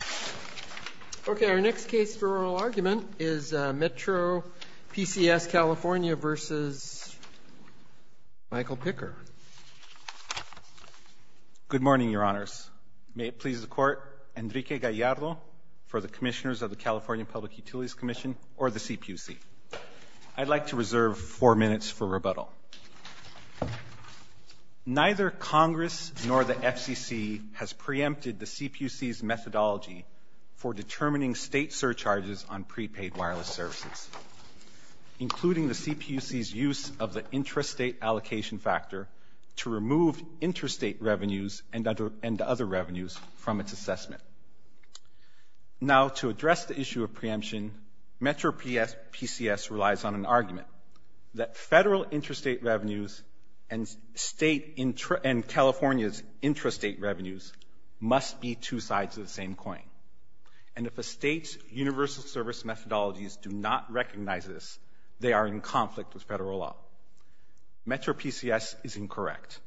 Good morning, Your Honors. May it please the Court, Enrique Gallardo for the Commissioners of the California Public Utilities Commission, or the CPUC. I'd like to reserve four minutes for rebuttal. Neither Congress nor the FCC has preempted the CPUC's methodology for determining state surcharges on prepaid wireless services, including the CPUC's use of the intrastate allocation factor to remove interstate revenues and other revenues from its assessment. Now, to address the issue of preemption, MetroPCS relies on an argument that federal intrastate revenues and California's intrastate revenues must be two sides of the same coin. And if a state's universal service methodologies do not recognize this, they are in conflict with federal law. MetroPCS is incorrect.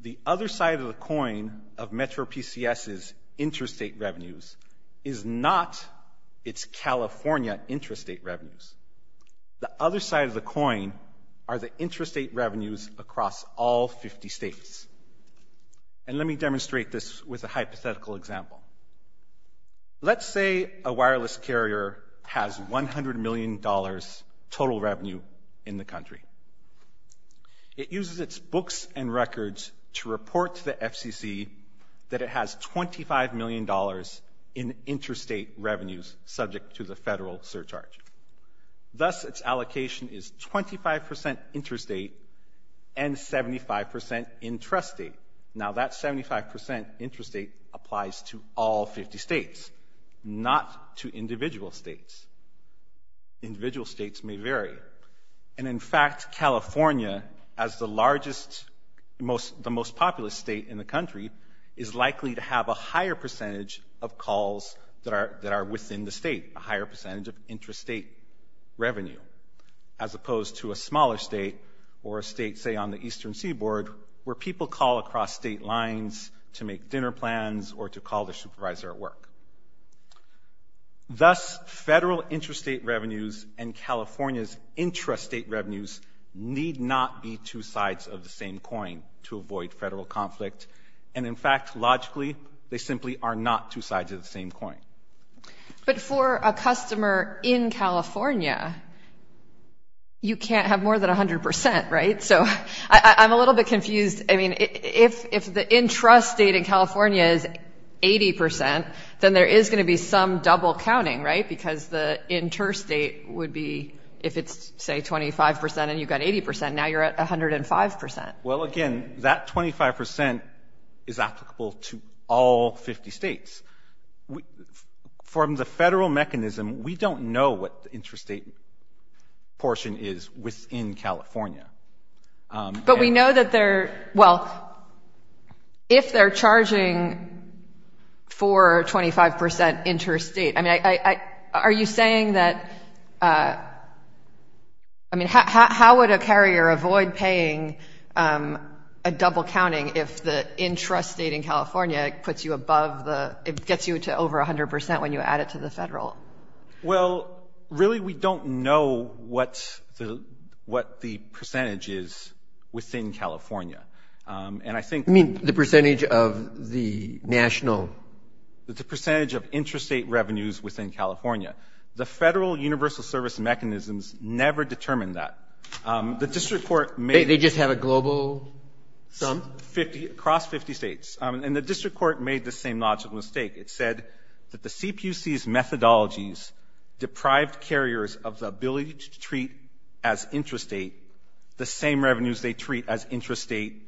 The other side of the coin of MetroPCS's intrastate revenues is not its California intrastate revenues. The other side of the coin are the intrastate revenues across all 50 states. And let me demonstrate this with a hypothetical example. Let's say a wireless carrier has $100 million total revenue in the country. It uses its books and records to report to the FCC that it has $25 million in intrastate revenues subject to the federal surcharge. Thus, its allocation is 25% intrastate and 75% intrastate. Now, that 75% intrastate applies to all 50 states, not to individual states. Individual states may vary. And in fact, California, as the largest, the most populous state in the country, is likely to have a higher percentage of calls that are within the state, a higher percentage of intrastate revenue, as opposed to a smaller state or a state, say, on the Eastern Seaboard, where people call across state lines to make dinner plans or to call their supervisor at Thus, federal intrastate revenues and California's intrastate revenues need not be two sides of the same coin to avoid federal conflict. And in fact, logically, they simply are not two sides of the same coin. But for a customer in California, you can't have more than 100%, right? So I'm a little bit confused. I mean, if the intrastate in California is 80%, then there is going to be some double counting, right? Because the interstate would be, if it's, say, 25%, and you've got 80%, now you're at 105%. Well, again, that 25% is applicable to all 50 states. From the federal mechanism, we don't know what the intrastate portion is within California. But we know that they're, well, if they're charging for 25% intrastate, I mean, are you saying that, I mean, how would a carrier avoid paying a double counting if the intrastate in California puts you above the, it gets you to over 100% when you add it to the federal? Well, really, we don't know what the percentage is within California. And I think You mean the percentage of the national? The percentage of intrastate revenues within California. The federal universal service mechanisms never determine that. The district court made They just have a global sum? Across 50 states. And the district court made the same logical mistake. It said that the CPUC's methodologies deprived carriers of the ability to treat as intrastate the same revenues they treat as intrastate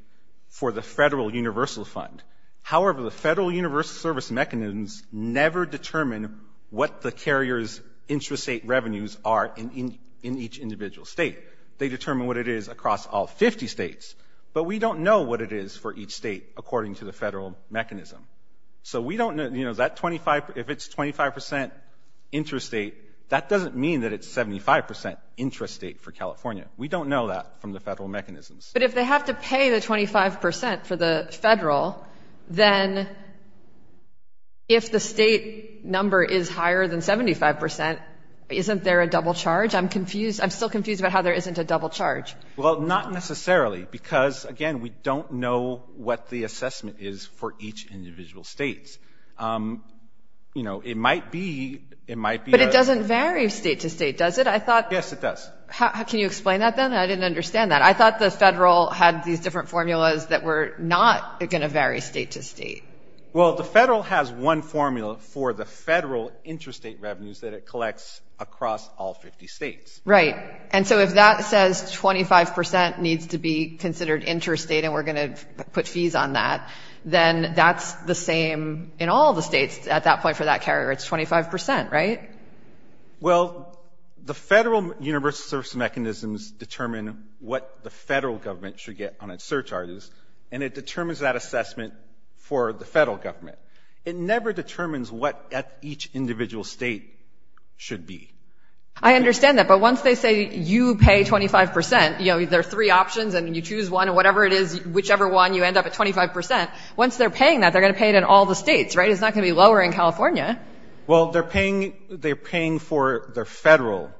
for the federal universal fund. However, the federal universal service mechanisms never determine what the carrier's intrastate revenues are in each individual state. They determine what it is across all 50 states. But we don't know what it is for each state according to the federal mechanism. So we don't know, you know, that 25, if it's 25% intrastate, that doesn't mean that it's 75% intrastate for California. We don't know that from the federal mechanisms. But if they have to pay the 25% for the federal, then if the state number is higher than 75%, isn't there a double charge? I'm confused. I'm still confused about how there isn't a double charge. Well, not necessarily. Because, again, we don't know what the assessment is for each individual state. You know, it might be, it might be a- But it doesn't vary state to state, does it? I thought- Yes, it does. Can you explain that then? I didn't understand that. I thought the federal had these different formulas that were not going to vary state to state. Well, the federal has one formula for the federal intrastate revenues that it collects across all 50 states. Right. And so if that says 25% needs to be considered intrastate and we're going to put fees on that, then that's the same in all the states at that point for that carrier. It's 25%, right? Well, the federal universal service mechanisms determine what the federal government should get on its surcharges. And it determines that assessment for the federal government. It never determines what each individual state should be. I understand that. But once they say you pay 25%, you know, there are three options and you choose one, whatever it is, whichever one, you end up at 25%. Once they're paying that, they're going to pay it in all the states, right? It's not going to be lower in California. Well they're paying, they're paying for their federal,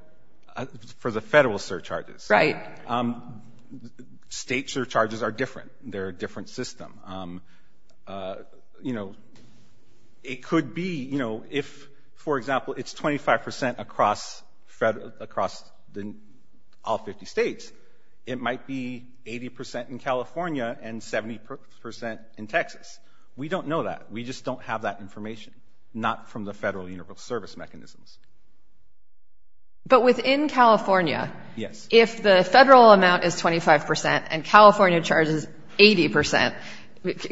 for the federal surcharges. Right. State surcharges are different. They're a different system. You know, it could be, you know, across all 50 states, it might be 80% in California and 70% in Texas. We don't know that. We just don't have that information. Not from the federal universal service mechanisms. But within California, if the federal amount is 25% and California charges 80%,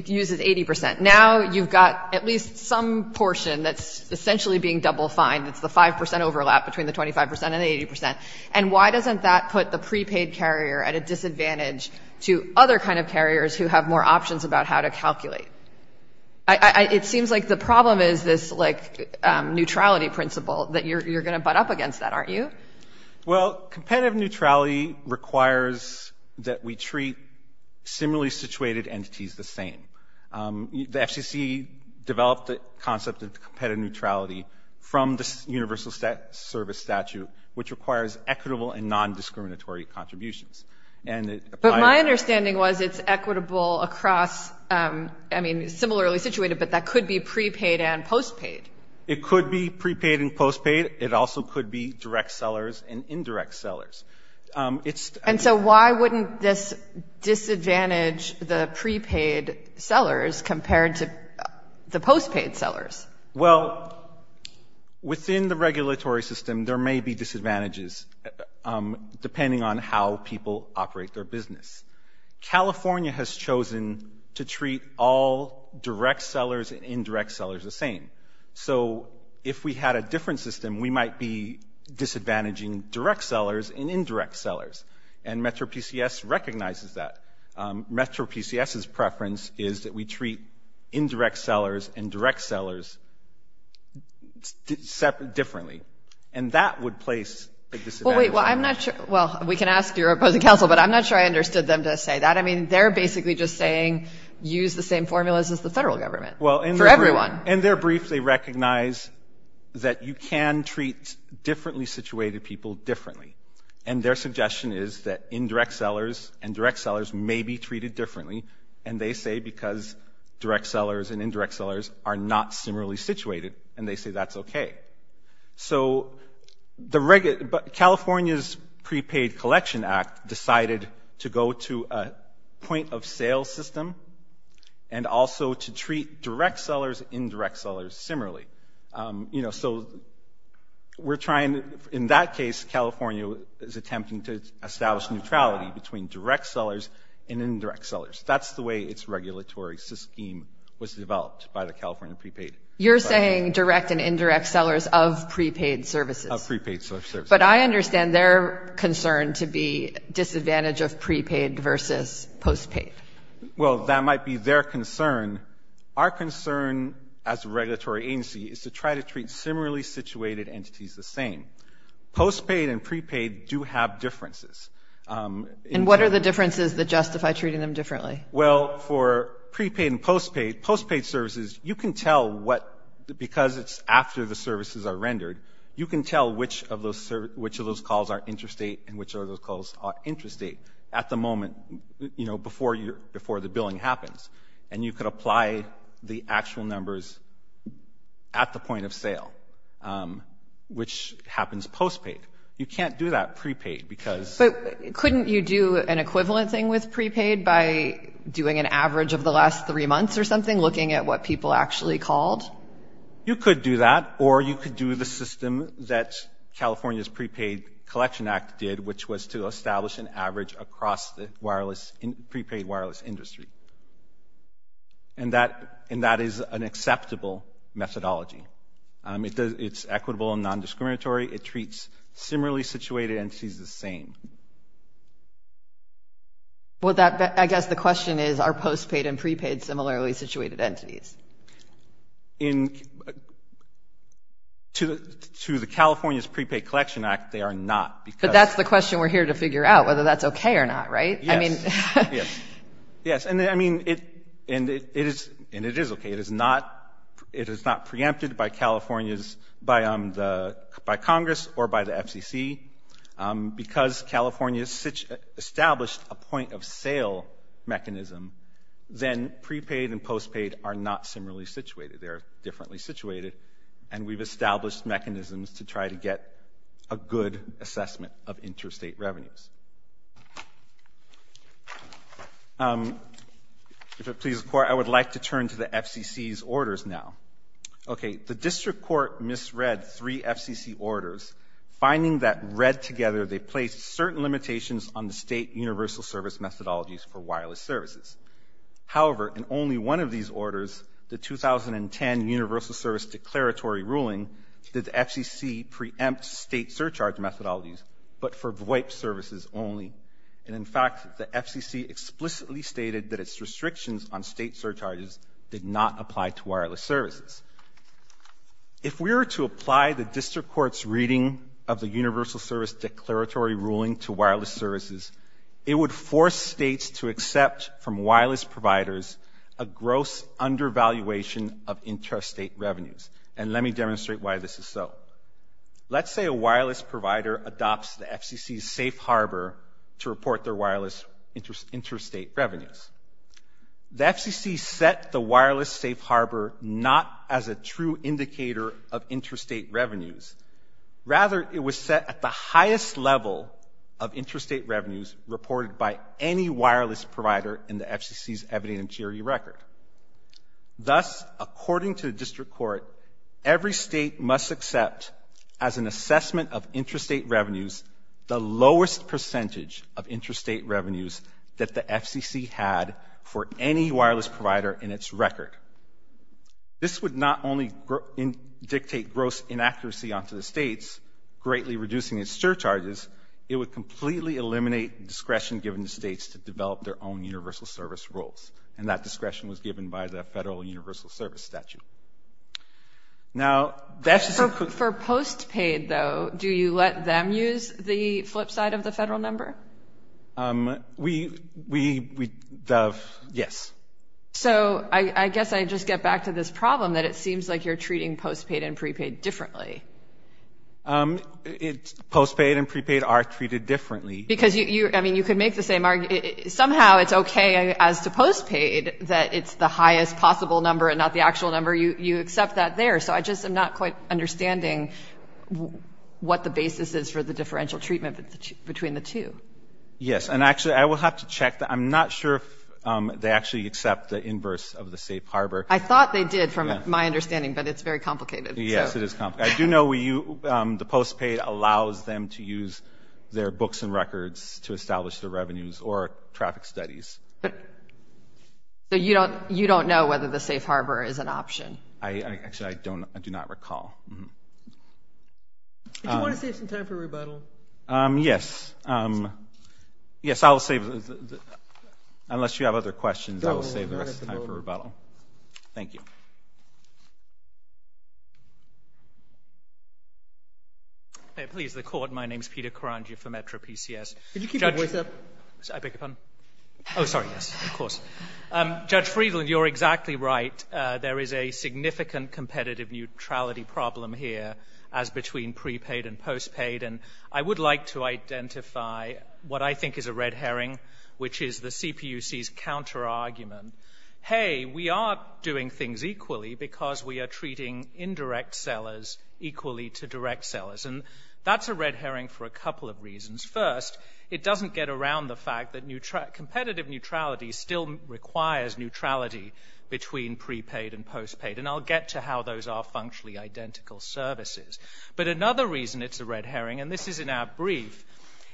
uses 80%, now you've got at least some portion that's essentially being double fined. It's the 5% overlap between the 25% and the 80%. And why doesn't that put the prepaid carrier at a disadvantage to other kind of carriers who have more options about how to calculate? It seems like the problem is this like neutrality principle that you're going to butt up against that, aren't you? Well competitive neutrality requires that we treat similarly situated entities the same. The FCC developed the concept of competitive neutrality from the universal service statute, which requires equitable and non-discriminatory contributions. But my understanding was it's equitable across, I mean, similarly situated, but that could be prepaid and postpaid. It could be prepaid and postpaid. It also could be direct sellers and indirect sellers. And so why wouldn't this disadvantage the prepaid sellers compared to the postpaid sellers? Well, within the regulatory system, there may be disadvantages depending on how people operate their business. California has chosen to treat all direct sellers and indirect sellers the same. So if we had a different system, we might be disadvantaging direct sellers and indirect sellers. And MetroPCS recognizes that. MetroPCS's preference is that we treat indirect sellers and direct sellers differently. And that would place a disadvantage. Well, I'm not sure. Well, we can ask your opposing counsel, but I'm not sure I understood them to say that. I mean, they're basically just saying, use the same formulas as the federal government for everyone. In their brief, they recognize that you can treat differently situated people differently. And their suggestion is that indirect sellers and direct sellers may be treated differently. And they say because direct sellers and indirect sellers are not similarly situated. And they say that's okay. So California's Prepaid Collection Act decided to go to a point-of-sale system and also to direct sellers similarly. You know, so we're trying, in that case, California is attempting to establish neutrality between direct sellers and indirect sellers. That's the way its regulatory scheme was developed by the California prepaid. You're saying direct and indirect sellers of prepaid services. Of prepaid services. But I understand their concern to be disadvantage of prepaid versus postpaid. Well, that might be their concern. Our concern as a regulatory agency is to try to treat similarly situated entities the same. Postpaid and prepaid do have differences. And what are the differences that justify treating them differently? Well, for prepaid and postpaid, postpaid services, you can tell what, because it's after the services are rendered, you can tell which of those calls are interstate and which of those calls are interstate at the moment, you know, before the billing happens. And you can apply the actual numbers at the point-of-sale, which happens postpaid. You can't do that prepaid because... But couldn't you do an equivalent thing with prepaid by doing an average of the last three months or something, looking at what people actually called? You could do that, or you could do the system that California's Prepaid Collection Act did, which was to establish an average across the prepaid wireless industry. And that is an acceptable methodology. It's equitable and non-discriminatory. It treats similarly situated entities the same. Well, I guess the question is, are postpaid and prepaid similarly situated entities? To the California's Prepaid Collection Act, they are not, because... That's the question we're here to figure out, whether that's okay or not, right? Yes. And it is okay. It is not preempted by Congress or by the FCC. Because California's established a point-of-sale mechanism, then prepaid and postpaid are not similarly situated. They're differently situated. And we've established mechanisms to try to get a good assessment of interstate revenues. If it pleases the Court, I would like to turn to the FCC's orders now. Okay. The District Court misread three FCC orders. Finding that read together, they placed certain limitations on the state universal service methodologies for wireless services. However, in only one of these orders, the 2010 Universal Service Declaratory ruling, that the FCC preempts state surcharge methodologies, but for VoIP services only. And in fact, the FCC explicitly stated that its restrictions on state surcharges did not apply to wireless services. If we were to apply the District Court's reading of the Universal Service Declaratory ruling to wireless services, it would force states to accept from wireless providers a gross undervaluation of interstate revenues. And let me demonstrate why this is so. Let's say a wireless provider adopts the FCC's safe harbor to report their wireless interstate revenues. The FCC set the wireless safe harbor not as a true indicator of interstate revenues. Rather it was set at the highest level of interstate revenues reported by any wireless provider in the FCC's evidentiary record. Thus, according to the District Court, every state must accept as an assessment of interstate revenues the lowest percentage of interstate revenues that the FCC had for any wireless provider in its record. This would not only dictate gross inaccuracy onto the states, greatly reducing its surcharges, it would completely eliminate discretion given to states to develop their own universal service rules. And that discretion was given by the Federal Universal Service Statute. Now that's just a quick... For postpaid though, do you let them use the flip side of the federal number? We, yes. So I guess I just get back to this problem that it seems like you're treating postpaid and prepaid differently. Postpaid and prepaid are treated differently. Because you, I mean, you could make the same argument. Somehow it's okay as to postpaid that it's the highest possible number and not the actual number. You accept that there. So I just am not quite understanding what the basis is for the differential treatment between the two. Yes. And actually I will have to check. I'm not sure if they actually accept the inverse of the safe harbor. I thought they did from my understanding, but it's very complicated. Yes, it is complicated. I do know the postpaid allows them to use their books and records to establish their revenues or traffic studies. But you don't know whether the safe harbor is an option. I actually, I do not recall. Do you want to save some time for rebuttal? Yes. Yes, I'll save, unless you have other questions, I will save the rest of the time for rebuttal. Thank you. Please, the court. My name is Peter Karangia for Metro PCS. Can you keep your voice up? I beg your pardon? Oh, sorry. Yes, of course. Judge Friedland, you're exactly right. There is a significant competitive neutrality problem here as between prepaid and postpaid. And I would like to identify what I think is a red herring, which is the CPUC's counter-argument. Hey, we are doing things equally because we are treating indirect sellers equally to direct sellers. And that's a red herring for a couple of reasons. First, it doesn't get around the fact that competitive neutrality still requires neutrality between prepaid and postpaid. And I'll get to how those are functionally identical services. But another reason it's a red herring, and this is in our brief,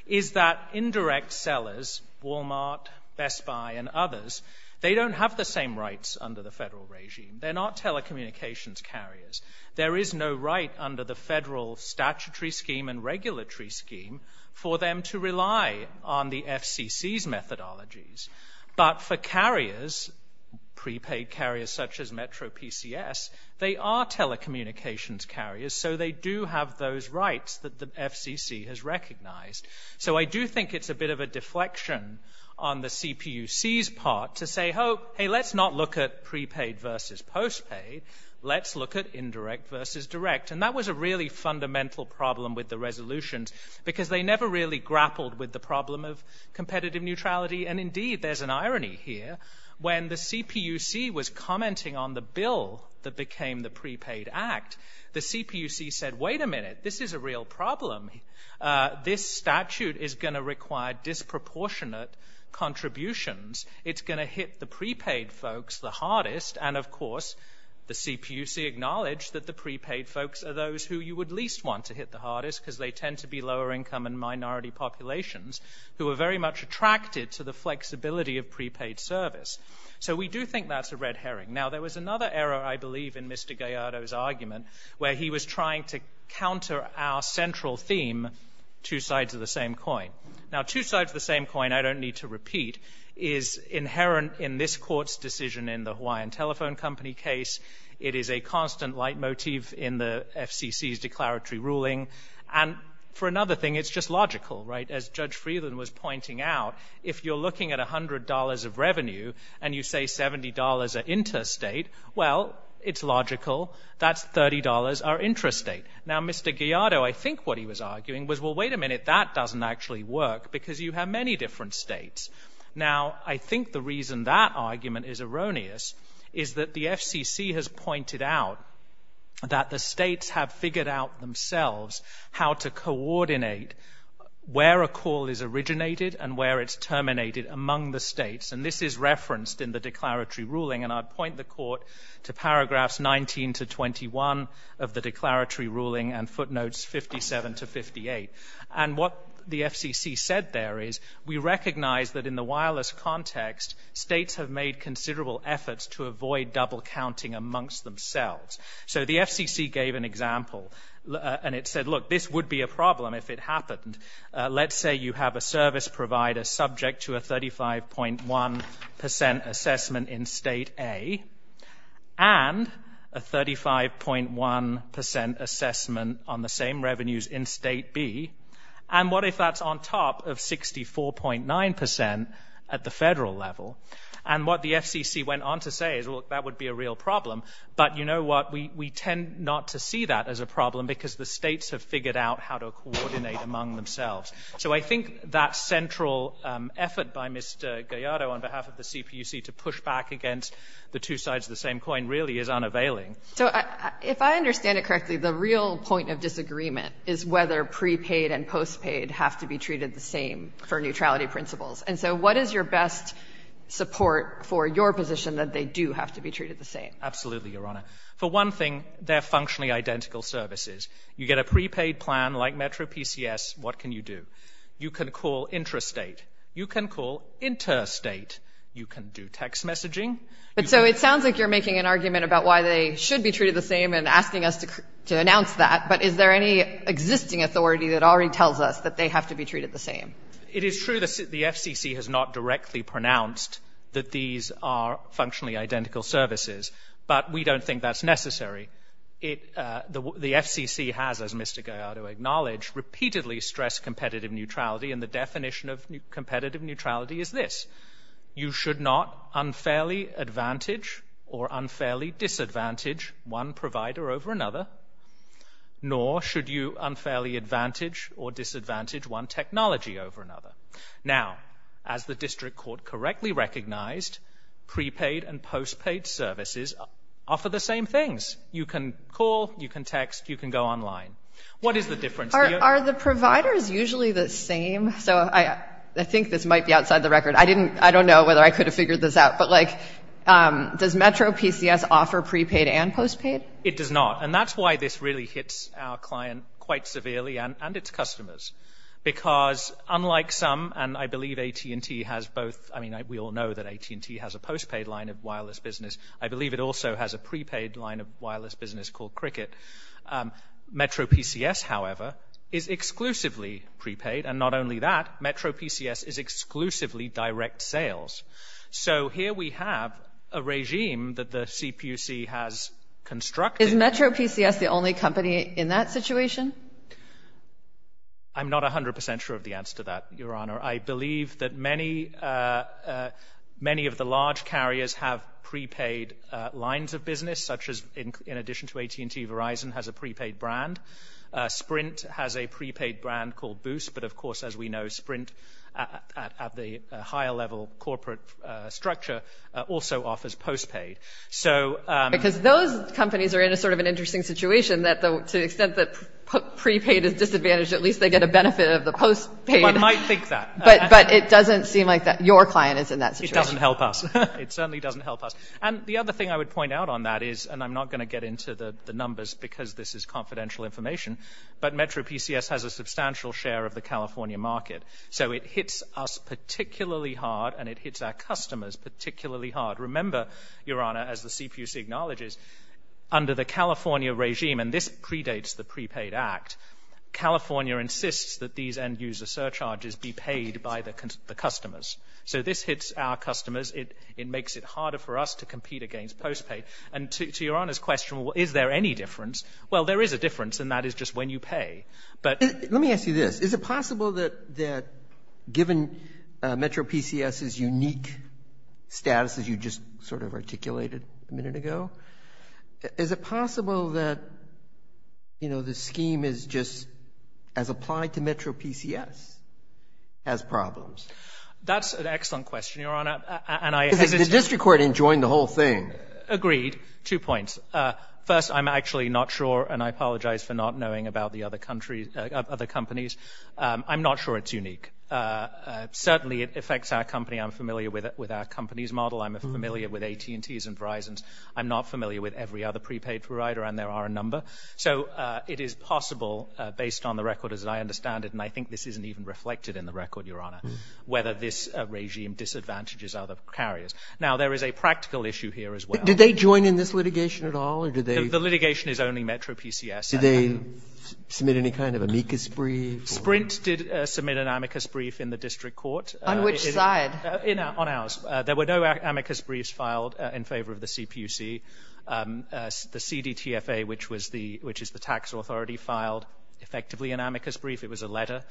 is that indirect sellers, Walmart, Best Buy and others, they don't have the same rights under the federal regime. They're not telecommunications carriers. There is no right under the federal statutory scheme and regulatory scheme for them to rely on the FCC's methodologies. But for carriers, prepaid carriers such as Metro PCS, they are telecommunications carriers so they do have those rights that the FCC has recognized. So, I do think it's a bit of a deflection on the CPUC's part to say, hey, let's not look at prepaid versus postpaid. Let's look at indirect versus direct. And that was a really fundamental problem with the resolutions because they never really grappled with the problem of competitive neutrality. And indeed, there's an irony here. When the CPUC was commenting on the bill that became the Prepaid Act, the CPUC said, wait a minute, this is a real problem. This statute is going to require disproportionate contributions. It's going to hit the prepaid folks the hardest. And of course, the CPUC acknowledged that the prepaid folks are those who you would least want to hit the hardest because they tend to be lower income and minority populations who are very much attracted to the flexibility of prepaid service. So we do think that's a red herring. Now, there was another error, I believe, in Mr. Gallardo's argument where he was trying to counter our central theme, two sides of the same coin. Now, two sides of the same coin, I don't need to repeat, is inherent in this court's decision in the Hawaiian Telephone Company case. It is a constant leitmotif in the FCC's declaratory ruling. And for another thing, it's just logical. As Judge Freeland was pointing out, if you're looking at $100 of revenue and you say $70 are interstate, well, it's logical. That's $30 are intrastate. Now, Mr. Gallardo, I think what he was arguing was, well, wait a minute. That doesn't actually work because you have many different states. Now, I think the reason that argument is erroneous is that the FCC has pointed out that the states have figured out themselves how to coordinate where a call is originated and where it's terminated among the states. And this is referenced in the declaratory ruling. And I'd point the court to paragraphs 19 to 21 of the declaratory ruling and footnotes 57 to 58. And what the FCC said there is, we recognize that in the wireless context, states have made considerable efforts to avoid double counting amongst themselves. So the FCC gave an example. And it said, look, this would be a problem if it happened. Let's say you have a service provider subject to a 35.1% assessment in State A and a 35.1% assessment on the same revenues in State B. And what if that's on top of 64.9% at the federal level? And what the FCC went on to say is, well, that would be a real problem. But you know what? We tend not to see that as a problem because the states have figured out how to coordinate among themselves. So I think that central effort by Mr. Gallardo on behalf of the CPUC to push back against the two sides of the same coin really is unavailing. So if I understand it correctly, the real point of disagreement is whether prepaid and postpaid have to be treated the same for neutrality principles. And so what is your best support for your position that they do have to be treated the same? Absolutely, Your Honor. For one thing, they're functionally identical services. You get a prepaid plan like Metro PCS, what can you do? You can call intrastate. You can call interstate. You can do text messaging. So it sounds like you're making an argument about why they should be treated the same and asking us to announce that. But is there any existing authority that already tells us that they have to be treated the same? It is true that the FCC has not directly pronounced that these are functionally identical services. But we don't think that's necessary. The FCC has, as Mr. Gallardo acknowledged, repeatedly stressed competitive neutrality and the definition of competitive neutrality is this. You should not unfairly advantage or unfairly disadvantage one provider over another nor should you unfairly advantage or disadvantage one technology over another. Now, as the District Court correctly recognized, prepaid and postpaid services offer the same things. You can call, you can text, you can go online. What is the difference? Are the providers usually the same? I think this might be outside the record. I don't know whether I could have figured this out. But does Metro PCS offer prepaid and postpaid? It does not. And that's why this really hits our client quite severely and its customers. Because unlike some, and I believe AT&T has both, I mean, we all know that AT&T has a postpaid line of wireless business. I believe it also has a prepaid line of wireless business called Cricket. Metro PCS, however, is exclusively prepaid. And not only that, Metro PCS is exclusively direct sales. So here we have a regime that the CPUC has constructed. Is Metro PCS the only company in that situation? I'm not 100% sure of the answer to that, Your Honor. I believe that many of the large carriers have prepaid lines of business, such as in addition to AT&T, Verizon has a prepaid brand. Sprint has a prepaid brand called Boost. But of course, as we know, Sprint at the higher level corporate structure also offers postpaid. Because those companies are in a sort of an interesting situation that to the extent that prepaid is disadvantaged, at least they get a benefit of the postpaid. One might think that. But it doesn't seem like your client is in that situation. It doesn't help us. It certainly doesn't help us. And the other thing I would point out on that is, and I'm not going to get into the numbers because this is confidential information, but Metro PCS has a substantial share of the California market. So it hits us particularly hard and it hits our customers particularly hard. Remember, Your Honor, as the CPUC acknowledges, under the California regime, and this predates the Prepaid Act, California insists that these end-user surcharges be paid by the customers. So this hits our customers. It makes it harder for us to compete against postpaid. And to Your Honor's question, is there any difference? Well, there is a difference, and that is just when you pay. Let me ask you this. Is it possible that given Metro PCS's unique status, as you just sort of articulated a minute ago, is it possible that, you know, the scheme is just as applied to Metro PCS as problems? That's an excellent question, Your Honor. Because the district court enjoined the whole thing. Agreed. Two points. First, I'm actually not sure, and I apologize for not knowing about the other companies. I'm not sure it's unique. Certainly, it affects our company. I'm familiar with our company's model. I'm familiar with AT&T's and Verizon's. I'm not familiar with every other prepaid provider, and there are a number. So it is possible, based on the record as I understand it, and I think this isn't even reflected in the record, Your Honor, whether this regime disadvantages other carriers. Now, there is a practical issue here as well. Did they join in this litigation at all, or did they? The litigation is only Metro PCS. Did they submit any kind of amicus brief? Sprint did submit an amicus brief in the district court. On which side? On ours. There were no amicus briefs filed in favor of the CPUC. The CDTFA, which is the tax authority, filed effectively an amicus brief. It was a letter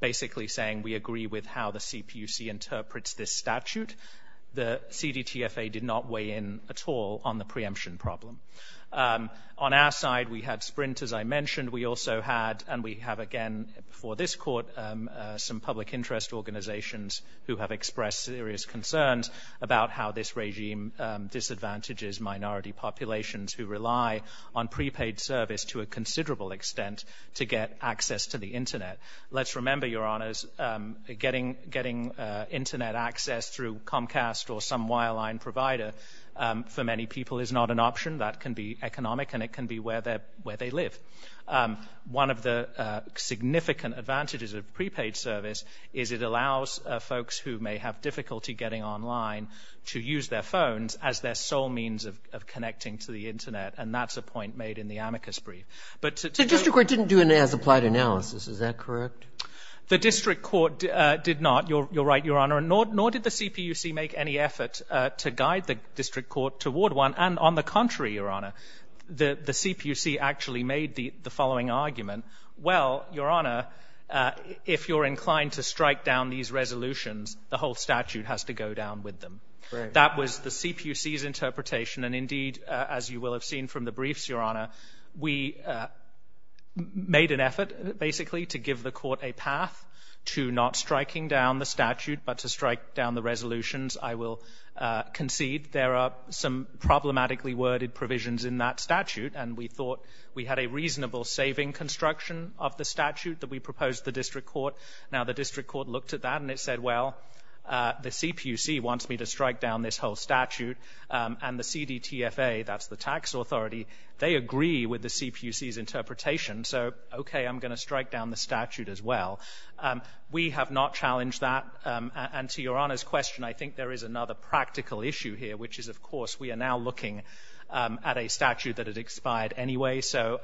basically saying we agree with how the CPUC interprets this statute. The CDTFA did not weigh in at all on the preemption problem. On our side, we had Sprint, as I mentioned. We also had, and we have again before this court, some public interest organizations who have expressed serious concerns about how this regime disadvantages minority populations who rely on prepaid service to a considerable extent to get access to the Internet. Let's remember, Your Honors, getting Internet access through Comcast or some wireline provider for many people is not an option. That can be economic, and it can be where they live. One of the significant advantages of prepaid service is it allows folks who may have difficulty getting online to use their phones as their sole means of connecting to the Internet. And that's a point made in the amicus brief. The district court didn't do an as-applied analysis. Is that correct? The district court did not. You're right, Your Honor. Nor did the CPUC make any effort to guide the district court toward one. And on the contrary, Your Honor, the CPUC actually made the following argument. Well, Your Honor, if you're inclined to strike down these resolutions, the whole statute has to go down with them. Right. That was the CPUC's interpretation. And indeed, as you will have seen from the briefs, Your Honor, we made an effort basically to give the court a path to not striking down the statute but to strike down the resolutions. I will concede there are some problematically worded provisions in that statute. And we thought we had a reasonable saving construction of the statute that we proposed to the district court. Now, the district court looked at that and it said, well, the CPUC wants me to strike down this whole statute. And the CDTFA, that's the tax authority, they agree with the CPUC's interpretation. So, okay, I'm going to strike down the statute as well. We have not challenged that. And to Your Honor's question, I think there is another practical issue here, which is, of course, we are now looking at a statute that had expired anyway. So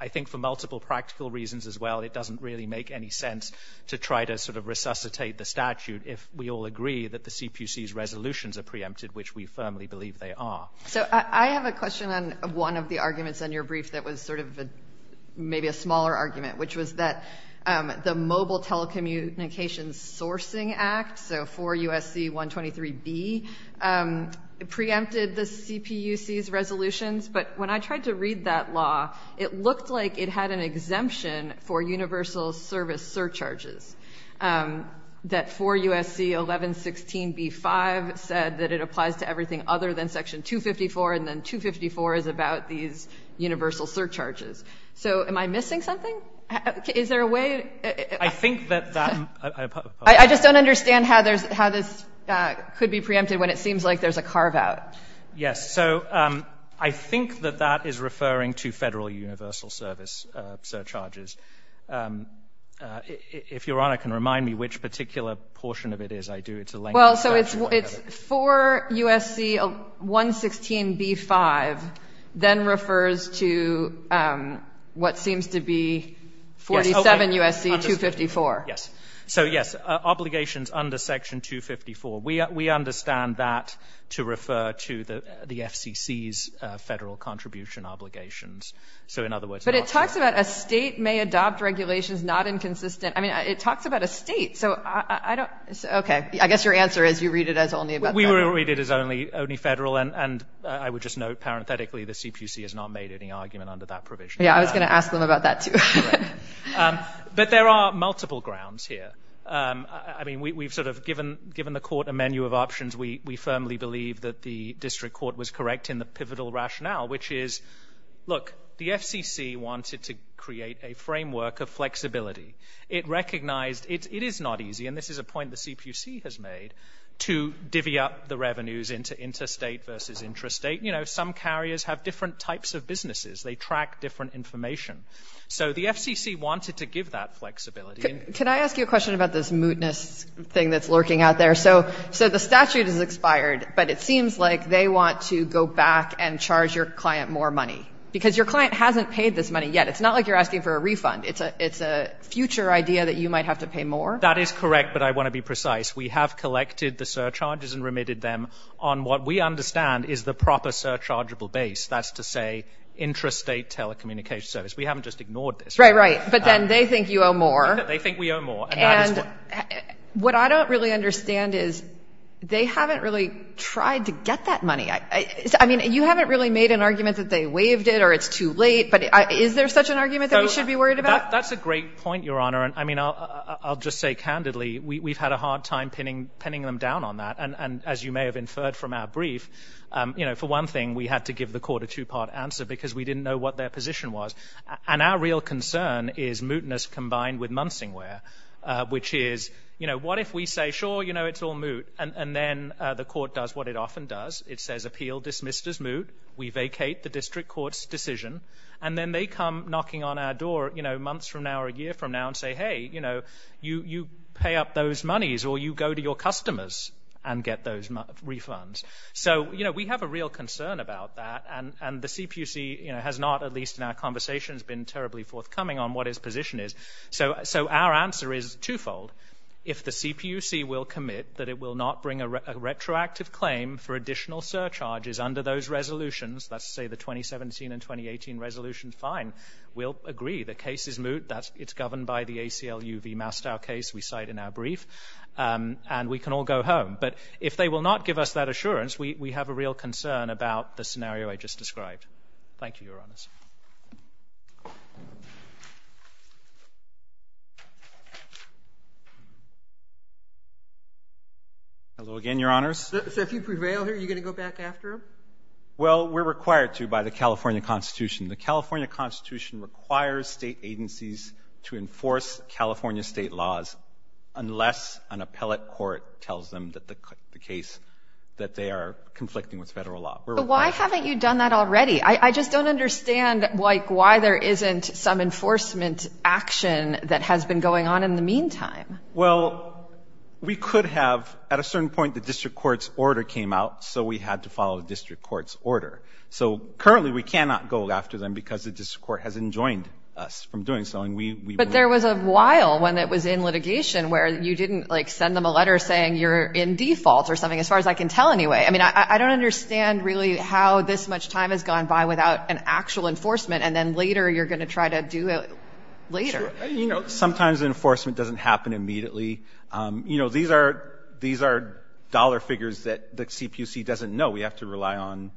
I think for multiple practical reasons as well, it doesn't really make any sense to try to sort of resuscitate the statute if we all agree that the CPUC's resolutions are preempted, which we firmly believe they are. So I have a question on one of the arguments in your brief that was sort of maybe a smaller argument, which was that the Mobile Telecommunications Sourcing Act, so 4 U.S.C. 123b, preempted the CPUC's resolutions. But when I tried to read that law, it looked like it had an exemption for universal service surcharges, that 4 U.S.C. 1116b-5 said that it applies to everything other than Section 254 and then 254 is about these universal surcharges. So am I missing something? Is there a way? I think that that... I just don't understand how this could be preempted when it seems like there's a carve-out. Yes. So I think that that is referring to Federal universal service surcharges. If Your Honor can remind me which particular portion of it is, I do. It's a lengthy statute. Well, so it's 4 U.S.C. 1116b-5 then refers to what seems to be 47 U.S.C. 254. Yes. So, yes, obligations under Section 254. We understand that to refer to the FCC's federal contribution obligations. So in other words... But it talks about a state may adopt regulations not inconsistent. I mean, it talks about a state, so I don't... Okay, I guess your answer is you read it as only about... We read it as only federal and I would just note parenthetically the CPC has not made any argument under that provision. Yeah, I was going to ask them about that too. But there are multiple grounds here. I mean, we've sort of given the Court a menu of options. We firmly believe that the District Court was correct in the pivotal rationale, which is, look, the FCC wanted to create a framework of flexibility. It recognized it is not easy and this is a point the CPC has made to divvy up the revenues into interstate versus intrastate. You know, some carriers have different types of businesses. They track different information. So the FCC wanted to give that flexibility. Can I ask you a question about this mootness thing that's lurking out there? So the statute is expired, but it seems like they want to go back and charge your client more money because your client hasn't paid this money yet. It's not like you're asking for a refund. It's a future idea that you might have to pay more? That is correct, but I want to be precise. We have collected the surcharges and remitted them on what we understand is the proper surchargeable base. That's to say, intrastate telecommunications service. We haven't just ignored this. Right, right. But then they think you owe more. They think we owe more. And what I don't really understand is they haven't really tried to get that money. I mean, you haven't really made an argument that they waived it or it's too late, but is there such an argument that we should be worried about? That's a great point, Your Honor. I mean, I'll just say candidly we've had a hard time pinning them down on that. And as you may have inferred from our brief, you know, for one thing, we had to give the court a two-part answer because we didn't know what their position was. And our real concern is mootness combined with muncingware, which is, you know, what if we say, sure, you know, it's all moot, and then the court does what it often does. It says appeal dismissed as moot, we vacate the district court's decision, and then they come knocking on our door months from now or a year from now and say, hey, you know, you pay up those monies or you go to your customers and get those refunds. So, you know, we have a real concern about that, and the CPUC has not, at least in our conversations, been terribly forthcoming on what its position is. So our answer is twofold. If the CPUC will commit that it will not bring a retroactive claim for additional surcharges under those resolutions, let's say the 2017 and 2018 resolutions, fine, we'll agree. The case is moot. It's governed by the ACLU v. Mastow case we cite in our brief, and we can all go home. But if they will not give us that assurance, we have a real concern about the scenario I just described. Thank you, Your Honors. Hello again, Your Honors. So if you prevail here, are you going to go back after him? Well, we're required to by the California Constitution. The California Constitution requires state agencies to enforce California state laws unless an appellate court tells them that they are conflicting with federal law. But why haven't you done that already? I just don't understand why there isn't some enforcement action that has been going on in the meantime. Well, we could have. At a certain point, the district court's order came out, so we had to follow the district court's order. So currently, we cannot go after them because the district court has enjoined us from doing so. But there was a while when it was in litigation where you didn't send them a letter saying you're in default or something, as far as I can tell anyway. I don't understand really how this much time has gone by without an actual enforcement and then later you're going to try to do it later. Sometimes enforcement doesn't happen immediately. These are dollar figures that the CPUC doesn't know. We have to rely on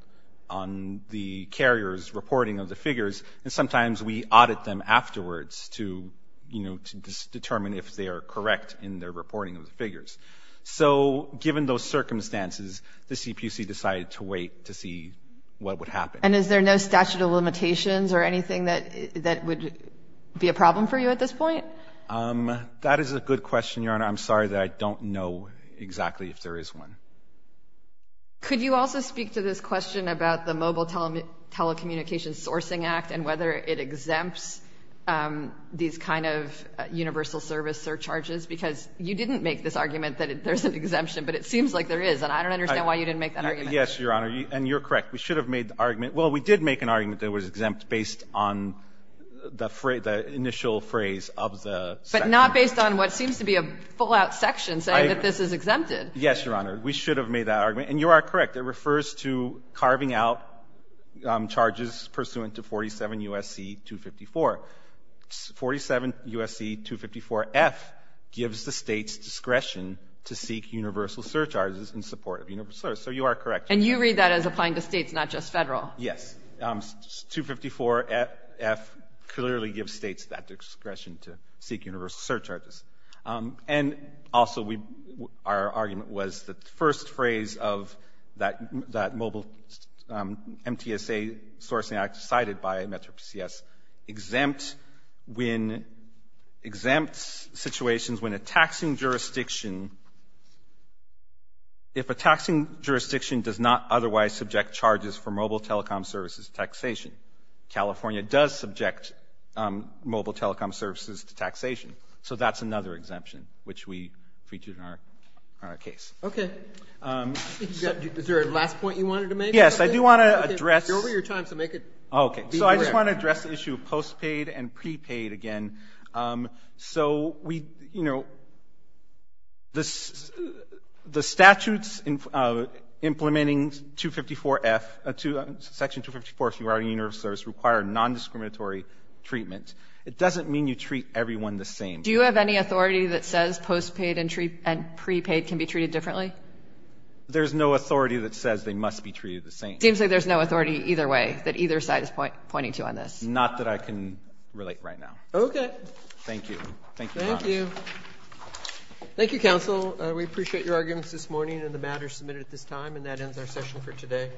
the carrier's reporting of the figures, and sometimes we audit them afterwards to determine if they are correct in their reporting of the figures. So given those circumstances, the CPUC decided to wait to see what would happen. And is there no statute of limitations or anything that would be a problem for you at this point? That is a good question, Your Honor. I'm sorry that I don't know exactly if there is one. Could you also speak to this question about the Mobile Telecommunications Sourcing Act and whether it exempts these kind of universal service surcharges? Because you didn't make this argument that there's an exemption, but it seems like there is, and I don't understand why you didn't make that argument. Yes, Your Honor, and you're correct. We should have made the argument. Well, we did make an argument that it was exempt based on the initial phrase of the section. But not based on what seems to be a full-out section saying that this is exempted. Yes, Your Honor. We should have made that argument, and you are correct. It refers to carving out charges pursuant to 47 U.S.C. 254. 47 U.S.C. 254F gives the States discretion to seek universal surcharges in support of universal service. So you are correct. And you read that as applying to States, not just Federal. Yes. 254F clearly gives States that discretion to seek universal surcharges. And also our argument was that the first phrase of that mobile MTSA sourcing act cited by MetroPCS exempt when exempt situations when a taxing jurisdiction if a taxing jurisdiction does not otherwise subject charges for mobile telecom services taxation California does subject mobile telecom services to taxation. So that's another exemption which we featured in our case. Okay. Is there a last point you wanted to make? Yes. I do want to address You're over your time, so make it... So I just want to address the issue of post-paid and pre-paid again. So we, you know the statutes implementing 254F Section 254 requires non-discriminatory treatment. It doesn't mean you treat everyone the same. Do you have any authority that says post-paid and pre-paid can be treated differently? There's no authority that says they must be treated the same. Seems like there's no authority either way that either side is pointing to on this. Not that I can relate right now. Okay. Thank you. Thank you. Thank you, counsel. We appreciate your arguments this morning and the matters submitted at this time. And that ends our session for today.